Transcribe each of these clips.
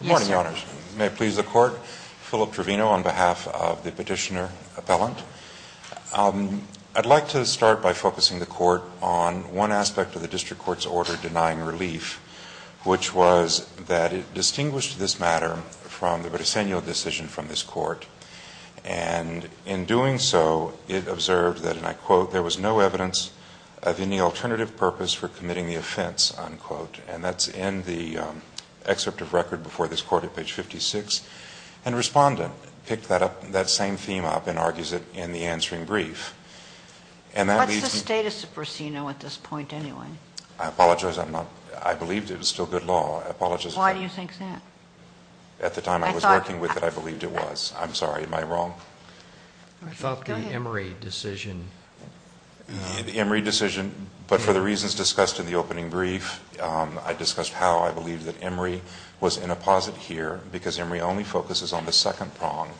Good morning, your honors. May it please the court, Philip Trevino on behalf of the petitioner appellant. I'd like to start by focusing the court on one aspect of the district court's order denying relief, which was that it distinguished this matter from the Bresenio decision from this court. And in doing so, it observed that, and I quote, there was no evidence of any excerpt of record before this court at page 56, and Respondent picked that up, that same theme up and argues it in the answering brief. And that leads to What's the status of Bresenio at this point, anyway? I apologize, I'm not, I believed it was still good law. I apologize for that. Why do you think that? At the time I was working with it, I believed it was. I'm sorry, am I wrong? I thought the Emory decision The Emory decision, but for the reasons discussed in the opening brief, I discussed how I believed that Emory was in a posit here because Emory only focuses on the second prong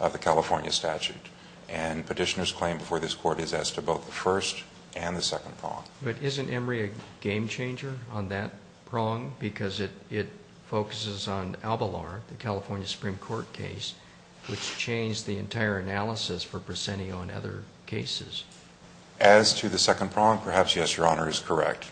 of the California statute. And petitioner's claim before this court is as to both the first and the second prong. But isn't Emory a game changer on that prong because it focuses on Albalor, the California Supreme Court case, which changed the entire analysis for Bresenio and other cases? As to the second prong, perhaps, yes, Your Honor, is correct.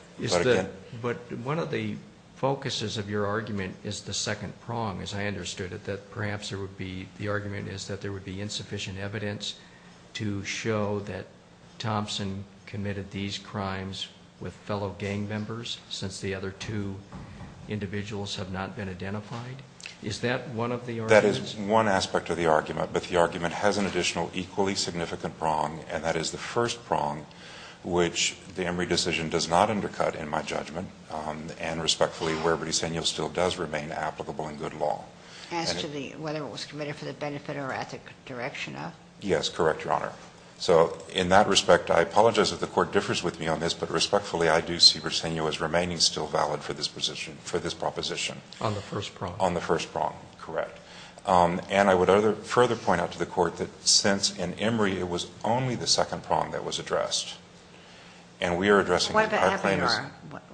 But one of the focuses of your argument is the second prong, as I understood it, that perhaps there would be, the argument is that there would be insufficient evidence to show that Thompson committed these crimes with fellow gang members since the other two individuals have not been identified. Is that one of the arguments? That is one aspect of the argument, but the argument has an additional equally significant prong, and that is the first prong, which the Emory decision does not undercut, in my judgment, and respectfully, where Bresenio still does remain applicable in good law. As to whether it was committed for the benefit or ethical direction of? Yes, correct, Your Honor. So in that respect, I apologize if the Court differs with me on this, but respectfully, I do see Bresenio as remaining still valid for this proposition. On the first prong? On the first prong, correct. And I would further point out to the Court that since in Emory it was only the second prong that was addressed, and we are addressing the entire claim as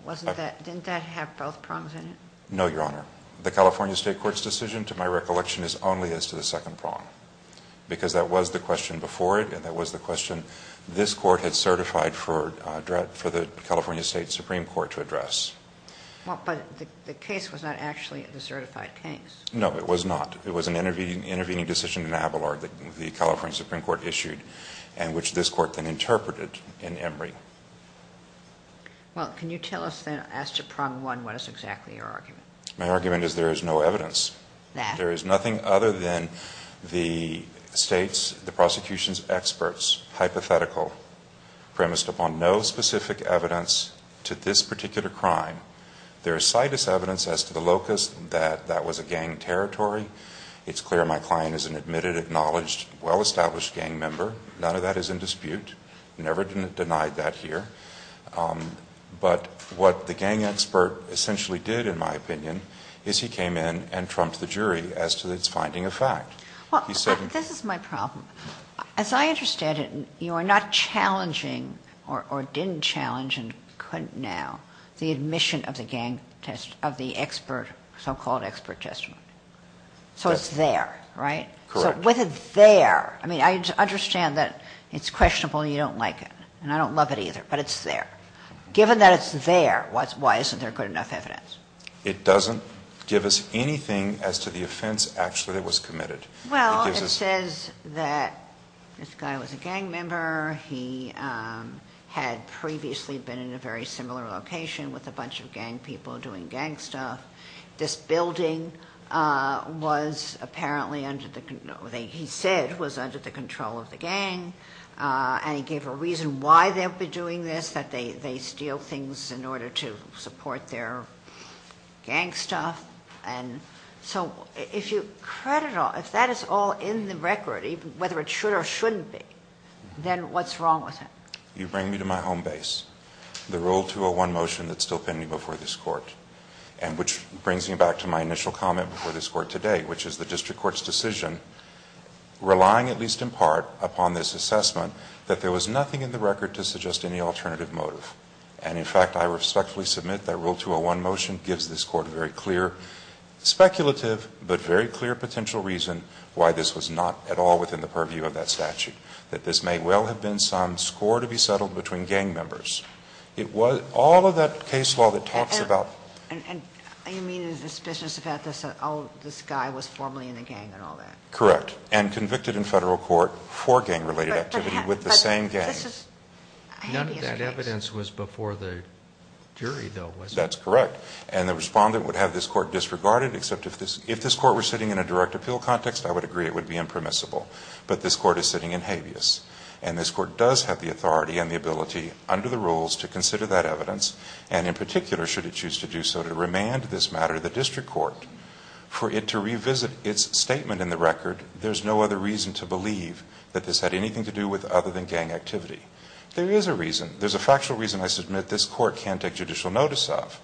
Why about Abelard? Didn't that have both prongs in it? No, Your Honor. The California State Court's decision, to my recollection, is only as to the second prong, because that was the question before it, and that was the question this Court had certified for the California State Supreme Court to address. But the case was not actually the certified case. No, it was not. It was an intervening decision in Abelard that the California Supreme Court issued, and which this Court then interpreted in Emory. Well, can you tell us then, as to prong one, what is exactly your argument? My argument is there is no evidence. That? There is nothing other than the State's, the prosecution's experts hypothetical premised upon no specific evidence to this particular crime. There is sightless evidence as to the locus that that was a gang territory. It's clear my client is an admitted, acknowledged, well-established gang member. None of that is in dispute. Never denied that here. But what the gang expert essentially did, in my opinion, is he came in and trumped the jury as to its finding of fact. Well, this is my problem. As I understand it, you are not challenging or didn't challenge and couldn't now the admission of the gang test, of the expert, so-called expert testimony. So it's there, right? Correct. With it there, I mean, I understand that it's questionable and you don't like it, and I don't love it either, but it's there. Given that it's there, why isn't there good enough evidence? It doesn't give us anything as to the offense actually that was committed. Well, it says that this guy was a gang member. He had previously been in a very similar location with a bunch of gang people doing gang stuff. This building was apparently under the, he said, was under the control of the gang, and he gave a reason why they would be doing this, that they steal things in order to support their gang stuff. And so if you credit all, if that is all in the record, whether it should or shouldn't be, then what's wrong with it? You bring me to my home base. The Rule 201 motion that's still pending before this court, and which brings me back to my initial comment before this court today, which is the district court's decision, relying at least in part upon this assessment, that there was nothing in the record to suggest any alternative motive. And in fact, I respectfully submit that Rule 201 motion gives this court a very clear, speculative, but very clear potential reason why this was not at all within the purview of that statute. That this may well have been some score to be settled between gang members. It was all of that case law that talks about And you mean it is suspicious that this guy was formerly in a gang and all that? Correct. And convicted in federal court for gang-related activity with the same gang. None of that evidence was before the jury, though, was it? That's correct. And the respondent would have this court disregarded, except if this court were sitting in a direct appeal context, I would agree it would be impermissible. But this court is sitting in habeas. And this court does have the authority and the ability, under the rules, to do so, to remand this matter to the district court. For it to revisit its statement in the record, there's no other reason to believe that this had anything to do with other than gang activity. There is a reason. There's a factual reason I submit this court can't take judicial notice of.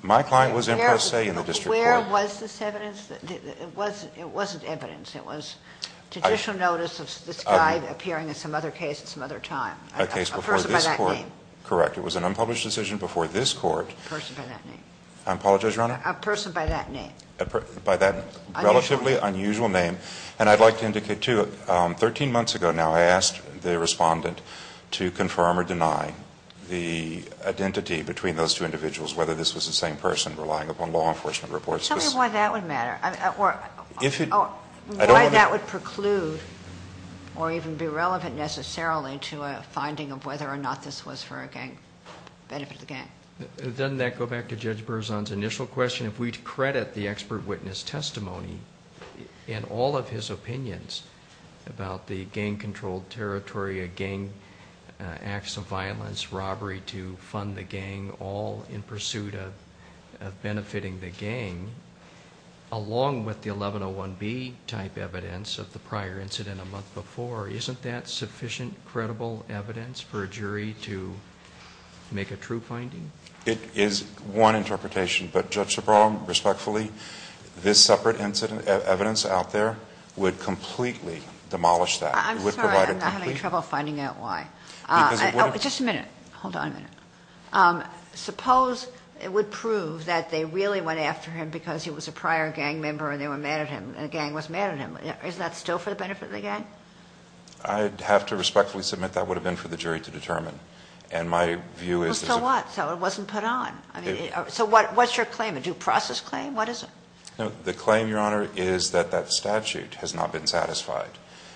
My client was in per se in the district court. Where was this evidence? It wasn't evidence. It was judicial notice of this guy appearing in some other case at some other time. A case before this court. A person by that name. Correct. It was an unpublished decision before this court. A person by that name. I apologize, Your Honor? A person by that name. By that relatively unusual name. And I'd like to indicate, too, 13 months ago now, I asked the respondent to confirm or deny the identity between those two individuals, whether this was the same person relying upon law enforcement reports. Tell me why that would matter. If you... Why that would preclude, or even be relevant necessarily, to a finding of whether or not this was for a gang, benefit of the gang. Doesn't that go back to Judge Berzon's initial question? If we credit the expert witness testimony and all of his opinions about the gang-controlled territory, gang acts of violence, robbery to fund the gang, all in pursuit of benefiting the gang, along with the 1101B type evidence of the prior incident a month before, isn't that sufficient credible evidence for It is one interpretation. But Judge Sobral, respectfully, this separate evidence out there would completely demolish that. I'm sorry. I'm having trouble finding out why. Just a minute. Hold on a minute. Suppose it would prove that they really went after him because he was a prior gang member and they were mad at him and the gang was mad at him. Is that still for the benefit of the gang? I'd have to respectfully submit that would have been for the jury to determine. And my view is... It wasn't put on. So what's your claim? A due process claim? What is it? The claim, Your Honor, is that that statute has not been satisfied.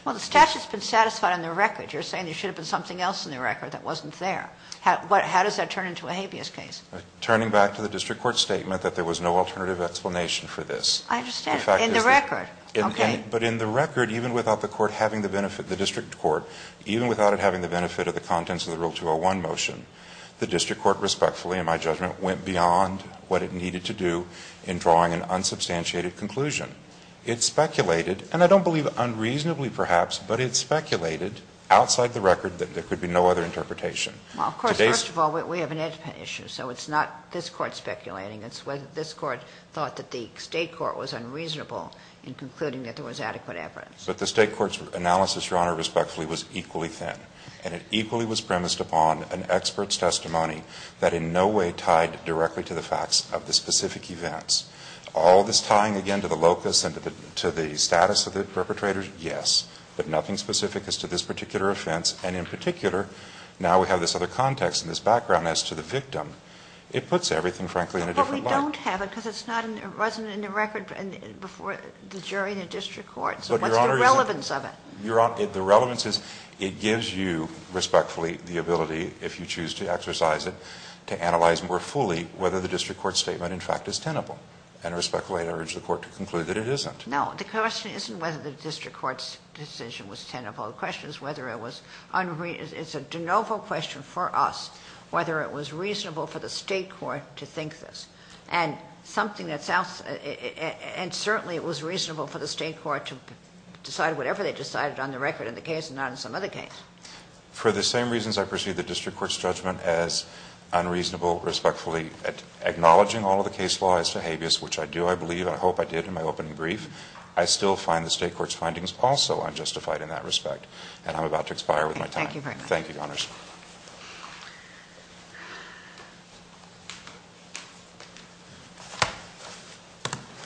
Well, the statute's been satisfied on the record. You're saying there should have been something else on the record that wasn't there. How does that turn into a habeas case? Turning back to the district court statement that there was no alternative explanation for this. I understand. In the record. Okay. But in the record, even without the district court, even without it having the benefit of the contents of the Rule 201 motion, the district court, respectfully in my judgment, went beyond what it needed to do in drawing an unsubstantiated conclusion. It speculated, and I don't believe unreasonably perhaps, but it speculated outside the record that there could be no other interpretation. Well, of course, first of all, we have an ed issue, so it's not this Court speculating. It's whether this Court thought that the State court was unreasonable in concluding that there was adequate evidence. But the State court's analysis, Your Honor, respectfully, was equally thin. And it equally was premised upon an expert's testimony that in no way tied directly to the facts of the specific events. All this tying again to the locus and to the status of the perpetrators, yes. But nothing specific as to this particular offense, and in particular, now we have this other context and this background as to the victim. It puts everything, frankly, in a different light. But we don't have it because it's not in the record before the jury and the district court. What's the relevance of it? Your Honor, the relevance is it gives you, respectfully, the ability, if you choose to exercise it, to analyze more fully whether the district court's statement, in fact, is tenable. And respectfully, I urge the Court to conclude that it isn't. No. The question isn't whether the district court's decision was tenable. The question is whether it was unreasonable. It's a de novo question for us whether it was reasonable for the State court to think this. And certainly it was reasonable for the State court to decide whatever they decided on the record in the case and not in some other case. For the same reasons I perceive the district court's judgment as unreasonable, respectfully, acknowledging all of the case law as to habeas, which I do, I believe, and I hope I did in my opening brief, I still find the State court's findings also unjustified in that respect. And I'm about to expire with my time. Thank you very much. Thank you, Your Honors.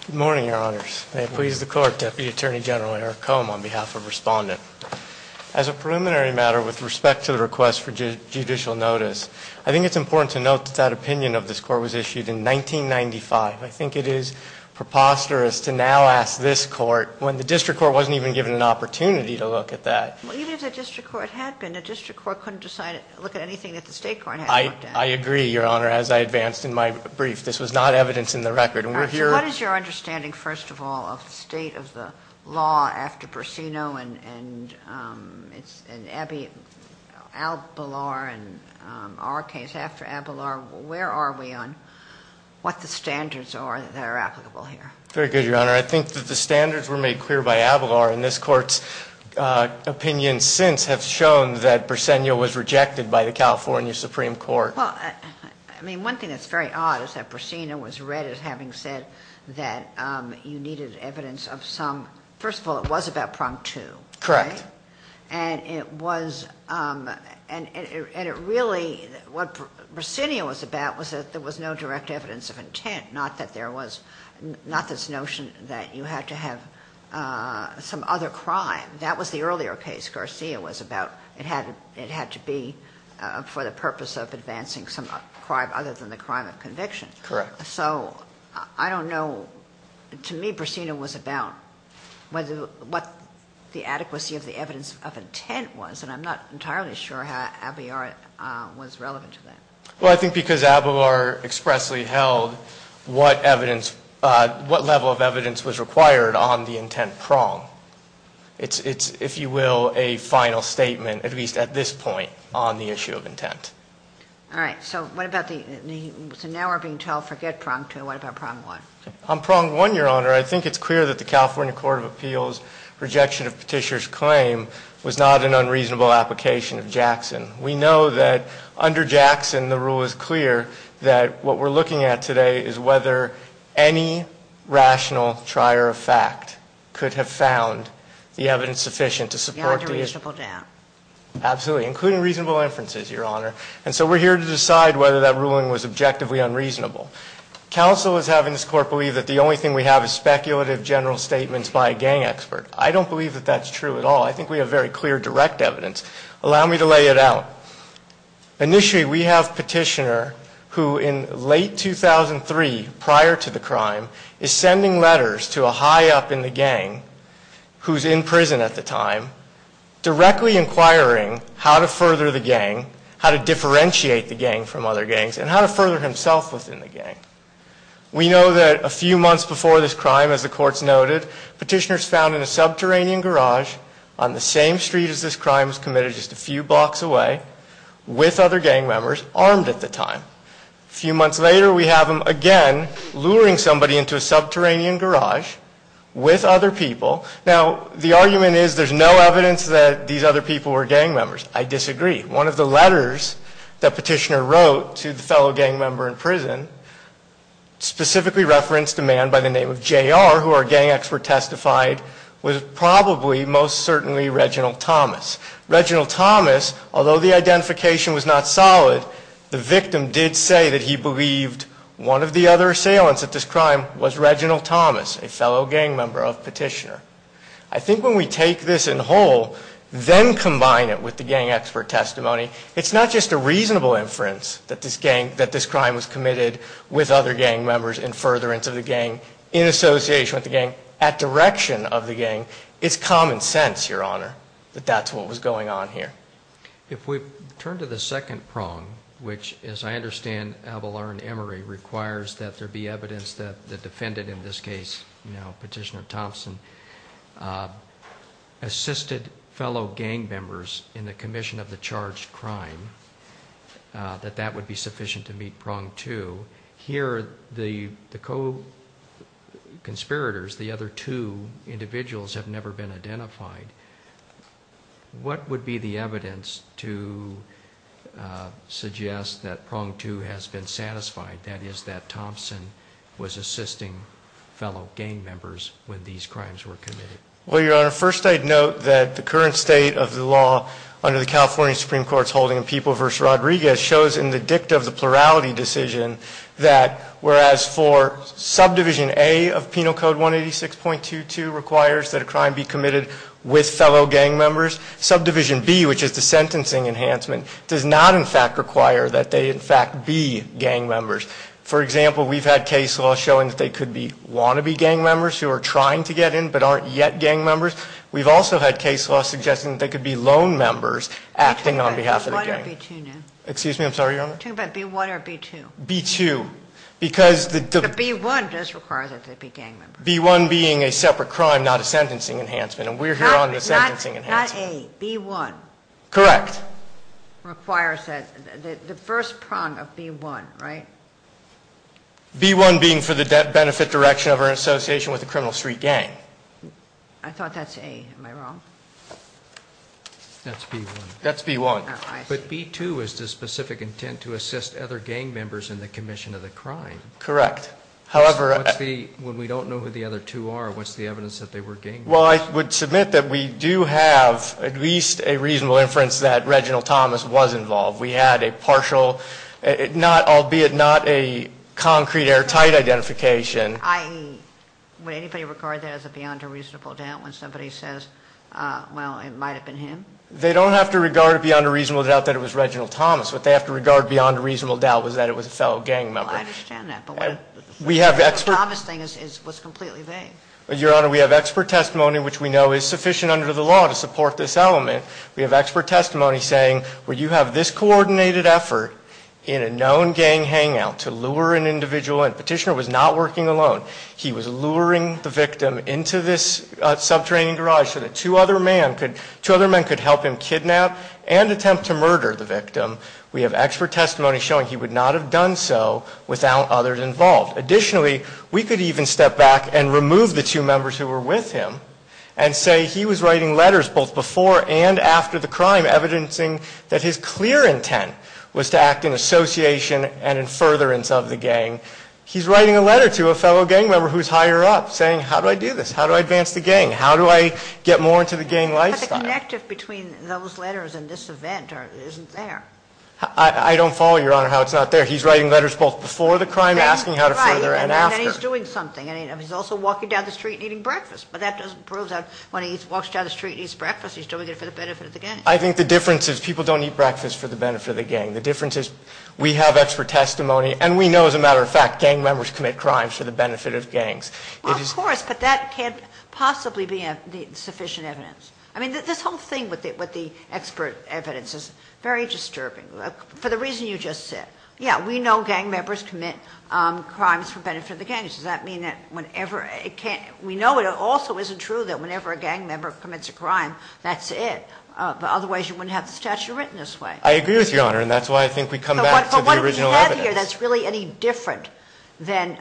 Good morning, Your Honors. May it please the Court, Deputy Attorney General Eric Cohen, on behalf of Respondent. As a preliminary matter with respect to the request for judicial notice, I think it's important to note that that opinion of this Court was issued in 1995. I think it is preposterous to now ask this Court when the district court wasn't even given an opportunity to look at that. say, well, let's look at it. I agree, Your Honor, as I advanced in my brief. This was not evidence in the record. All right. So what is your understanding, first of all, of the state of the law after Bersino and Abelard and our case after Abelard? Where are we on what the standards are that are applicable here? Very good, Your Honor. I think that the standards were made clear by Abelard, and this Court's evidence since have shown that Bersino was rejected by the California Supreme Court. Well, I mean, one thing that's very odd is that Bersino was read as having said that you needed evidence of some, first of all, it was about Prompt II, right? Correct. And it was, and it really, what Bersino was about was that there was no direct evidence of intent, not that there was, not this notion that you had to have some other crime. That was the earlier case Garcia was about. It had to be for the purpose of advancing some crime other than the crime of conviction. Correct. So I don't know, to me, Bersino was about what the adequacy of the evidence of intent was, and I'm not entirely sure how Abelard was relevant to that. Well, I think because Abelard expressly held what level of evidence was required on the intent prong. It's, if you will, a final statement, at least at this point, on the issue of intent. All right. So what about the, so now we're being told forget Prompt II. What about Prompt I? On Prompt I, Your Honor, I think it's clear that the California Court of Appeals' rejection of Petitioner's claim was not an unreasonable application of Jackson. We know that under Jackson, the rule is clear that what we're looking at today is whether any rational trier of fact could have found the evidence sufficient to support the issue. Not a reasonable doubt. Absolutely. Including reasonable inferences, Your Honor. And so we're here to decide whether that ruling was objectively unreasonable. Counsel is having this Court believe that the only thing we have is speculative general statements by a gang expert. I don't believe that that's true at all. I think we have very clear direct evidence. Allow me to lay it out. Initially, we have Petitioner, who in late 2003, prior to the crime, is sending letters to a high up in the gang, who's in prison at the time, directly inquiring how to further the gang, how to differentiate the gang from other gangs, and how to further himself within the gang. We know that a few months before this crime, as the courts noted, Petitioner's found in a subterranean garage on the same street as this guy, a few blocks away, with other gang members, armed at the time. A few months later, we have him again luring somebody into a subterranean garage with other people. Now, the argument is there's no evidence that these other people were gang members. I disagree. One of the letters that Petitioner wrote to the fellow gang member in prison specifically referenced a man by the name of J.R., who our gang expert testified was probably, most certainly, Reginald Thomas. Reginald Thomas, although the identification was not solid, the victim did say that he believed one of the other assailants of this crime was Reginald Thomas, a fellow gang member of Petitioner. I think when we take this in whole, then combine it with the gang expert testimony, it's not just a reasonable inference that this crime was committed with other gang members in furtherance of the crime. It's common sense, Your Honor, that that's what was going on here. If we turn to the second prong, which, as I understand, Avalar and Emery requires that there be evidence that the defendant in this case, now Petitioner Thompson, assisted fellow gang members in the commission of the charged crime, that that would be sufficient to meet prong two. Here, the co-conspirators, the other two individuals, have never been identified. What would be the evidence to suggest that prong two has been satisfied, that is, that Thompson was assisting fellow gang members when these crimes were committed? Well, Your Honor, first I'd note that the current state of the law under the California Supreme Court's holding of People v. Rodriguez shows in the dicta of the plurality decision that whereas for Subdivision A of Penal Code 186.22 requires that a crime be committed with fellow gang members, Subdivision B, which is the sentencing enhancement, does not, in fact, require that they, in fact, be gang members. For example, we've had case law showing that they could want to be gang members who are trying to get in but aren't yet gang members. We've also had case law suggesting that they could be loan members acting on behalf of the gang. B-1 or B-2 now? Excuse me, I'm sorry, Your Honor? Are you talking about B-1 or B-2? B-2. B-1 does require that they be gang members. B-1 being a separate crime, not a sentencing enhancement, and we're here on the sentencing enhancement. Not A, B-1. Correct. Requires that, the first prong of B-1, right? B-1 being for the benefit direction of or in association with a criminal street gang. I thought that's A. Am I wrong? That's B-1. That's B-1. But B-2 is the specific intent to assist other gang members in the commission of the crime. Correct. However... When we don't know who the other two are, what's the evidence that they were gang members? Well, I would submit that we do have at least a reasonable inference that Reginald Thomas was involved. We had a partial, albeit not a concrete airtight identification. I.e., would anybody regard that as a beyond a reasonable doubt when somebody says, well, it might have been him? They don't have to regard it beyond a reasonable doubt that it was Reginald Thomas. What they have to regard beyond a reasonable doubt was that it was a fellow gang member. Well, I understand that. But the Thomas thing was completely vague. Your Honor, we have expert testimony, which we know is sufficient under the law to support this element. We have expert testimony saying, well, you have this coordinated effort in a known gang hangout to lure an individual in. Petitioner was not working alone. He was luring the victim into this sub-training garage so that two other men could help him kidnap and attempt to murder the victim. We have expert testimony showing he would not have done so without others involved. Additionally, we could even step back and remove the two members who were with him and say he was writing letters both before and after the crime, evidencing that his clear intent was to act in association and in furtherance of the gang. He's writing a letter to a fellow gang member who is higher up saying, how do I do this? How do I advance the gang? How do I get more into the gang lifestyle? But the connective between those letters and this event isn't there. I don't follow, Your Honor, how it's not there. He's writing letters both before the crime, asking how to further and after. Right. And then he's doing something. He's also walking down the street and eating breakfast. But that doesn't prove that when he walks down the street and eats breakfast, he's doing it for the benefit of the gang. I think the difference is people don't eat breakfast for the benefit of the gang. And we know, as a matter of fact, gang members commit crimes for the benefit of gangs. Well, of course. But that can't possibly be sufficient evidence. I mean, this whole thing with the expert evidence is very disturbing for the reason you just said. Yeah, we know gang members commit crimes for the benefit of the gang. Does that mean that whenever it can't? We know it also isn't true that whenever a gang member commits a crime, that's it. Otherwise, you wouldn't have the statute written this way. I agree with you, Your Honor. And that's why I think we come back to the original evidence. I'm not sure that's really any different than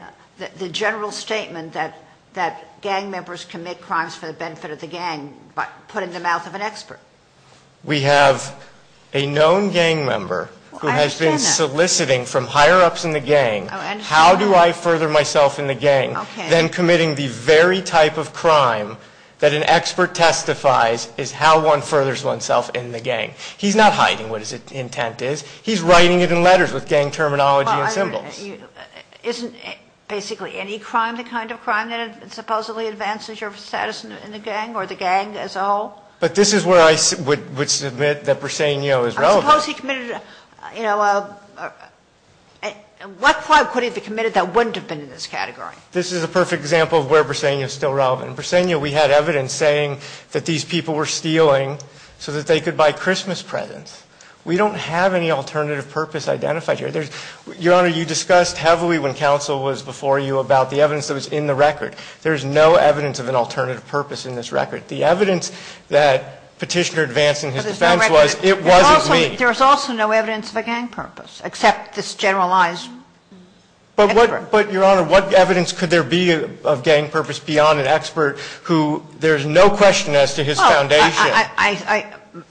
the general statement that gang members commit crimes for the benefit of the gang, but put in the mouth of an expert. We have a known gang member who has been soliciting from higher-ups in the gang, how do I further myself in the gang, then committing the very type of crime that an expert testifies is how one furthers oneself in the gang. He's not hiding what his intent is. He's writing it in letters with gang terminology and symbols. Isn't basically any crime the kind of crime that supposedly advances your status in the gang or the gang as a whole? But this is where I would submit that Briseño is relevant. I suppose he committed, you know, what crime could he have committed that wouldn't have been in this category? This is a perfect example of where Briseño is still relevant. In Briseño, we had evidence saying that these people were stealing so that they could buy Christmas presents. We don't have any alternative purpose identified here. Your Honor, you discussed heavily when counsel was before you about the evidence that was in the record. There's no evidence of an alternative purpose in this record. The evidence that Petitioner advanced in his defense was it wasn't me. There's also no evidence of a gang purpose, except this generalized expert. But, Your Honor, what evidence could there be of gang purpose beyond an expert who there's no question as to his foundation?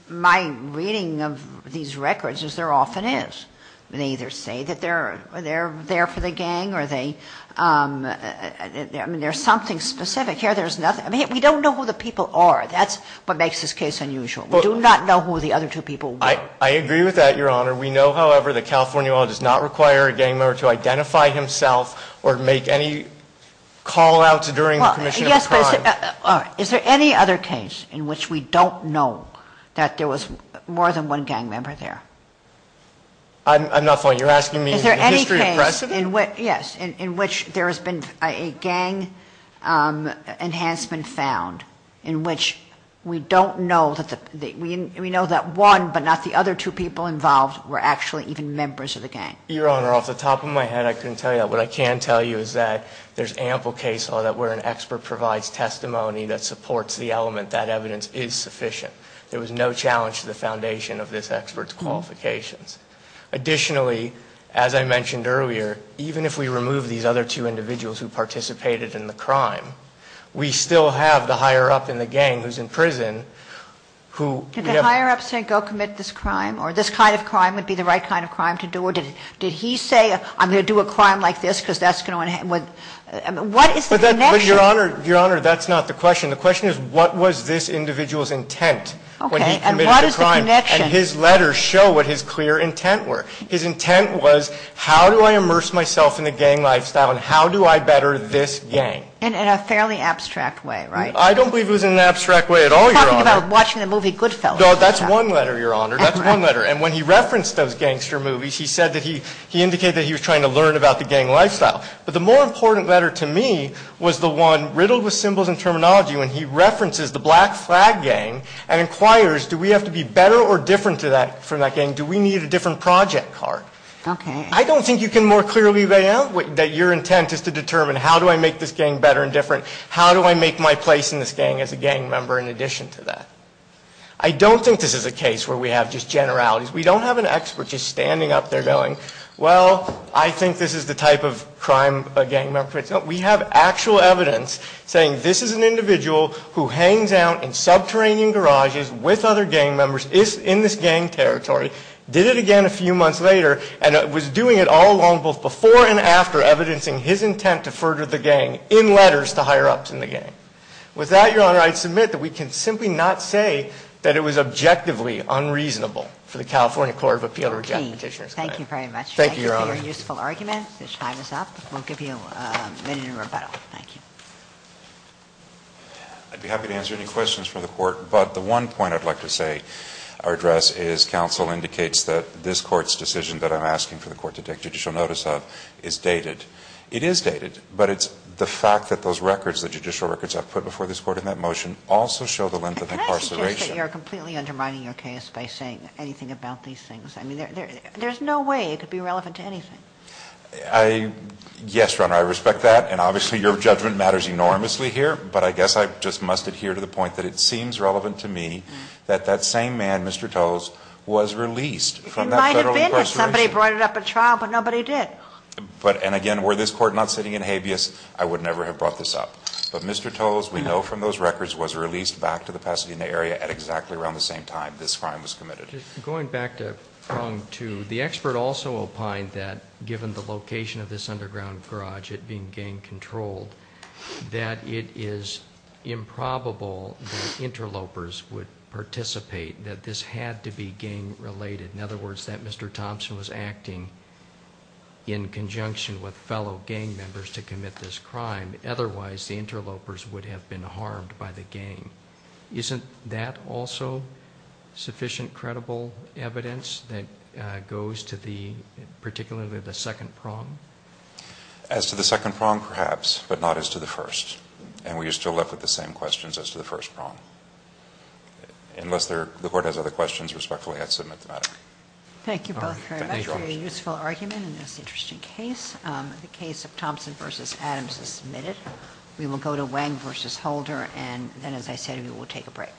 My reading of these records is there often is. They either say that they're there for the gang or they, I mean, there's something specific here. There's nothing. I mean, we don't know who the people are. That's what makes this case unusual. We do not know who the other two people were. I agree with that, Your Honor. We know, however, that California law does not require a gang member to identify himself or make any call-outs during the commission of a crime. Is there any other case in which we don't know that there was more than one gang member there? I'm not following. You're asking me the history of precedent? Yes, in which there has been a gang enhancement found in which we don't know that the, we know that one but not the other two people involved were actually even members of the gang. Your Honor, off the top of my head, I couldn't tell you that. What I can tell you is that there's ample case law that where an expert provides testimony that supports the element that evidence is sufficient. There was no challenge to the foundation of this expert's qualifications. Additionally, as I mentioned earlier, even if we remove these other two individuals who participated in the crime, we still have the higher-up in the gang who's in prison who- Did the higher-up say, go commit this crime? Or this kind of crime would be the right kind of crime to do? Or did he say, I'm going to do a crime like this because that's going to enhance- What is the connection? Your Honor, that's not the question. The question is, what was this individual's intent when he committed the crime? And what is the connection? And his letters show what his clear intent were. His intent was, how do I immerse myself in the gang lifestyle and how do I better this gang? In a fairly abstract way, right? I don't believe it was in an abstract way at all, Your Honor. We're talking about watching the movie Goodfellas. No, that's one letter, Your Honor. That's one letter. And when he referenced those gangster movies, he said that he indicated that he was trying to learn about the gang lifestyle. But the more important letter to me was the one riddled with symbols and terminology when he references the Black Flag Gang and inquires, do we have to be better or different from that gang? Do we need a different project card? I don't think you can more clearly lay out that your intent is to determine, how do I make this gang better and different? How do I make my place in this gang as a gang member in addition to that? I don't think this is a case where we have just generalities. We don't have an expert just standing up there going, well, I think this is the type of crime a gang member commits. No, we have actual evidence saying this is an individual who hangs out in subterranean garages with other gang members, is in this gang territory, did it again a few months later, and was doing it all along, both before and after, evidencing his intent to further the gang in letters to higher-ups in the gang. simply not say that it was objectively unreasonable for the California Police Department to do that. Thank you very much. Thank you for your useful argument. This time is up. We'll give you a minute in rebuttal. Thank you. I'd be happy to answer any questions from the court, but the one point I'd like to say, our address is, counsel indicates that this court's decision that I'm asking for the court to take judicial notice of is dated. It is dated, but it's the fact that those records, the judicial records I've put before this court in that motion, also show the length of incarceration. You're completely undermining your case by saying anything about these things. I mean, there's no way it could be relevant to anything. Yes, Your Honor, I respect that, and obviously your judgment matters enormously here, but I guess I just must adhere to the point that it seems relevant to me that that same man, Mr. Towles, was released from that federal incarceration. He might have been if somebody brought it up at trial, but nobody did. And again, were this court not sitting in habeas, I would never have brought this up. But Mr. Towles, we know from those testimonies that Mr. Towles committed. Going back to prong two, the expert also opined that given the location of this underground garage, it being gang controlled, that it is improbable the interlopers would participate, that this had to be gang related. In other words, that Mr. Thompson was acting in conjunction with fellow gang members to commit this crime. Otherwise, the interlopers would have been harmed by the gang. Isn't that also sufficient evidence that goes to the, particularly the second prong? As to the second prong, perhaps, but not as to the first. And we are still left with the same questions as to the first prong. Unless the court has other questions, respectfully, I'd submit them out. Thank you both very much for your useful argument in this interesting case. The case of Thompson v. Adams is submitted. We will go to Wang v. Holder, and then as I said, we will take a break.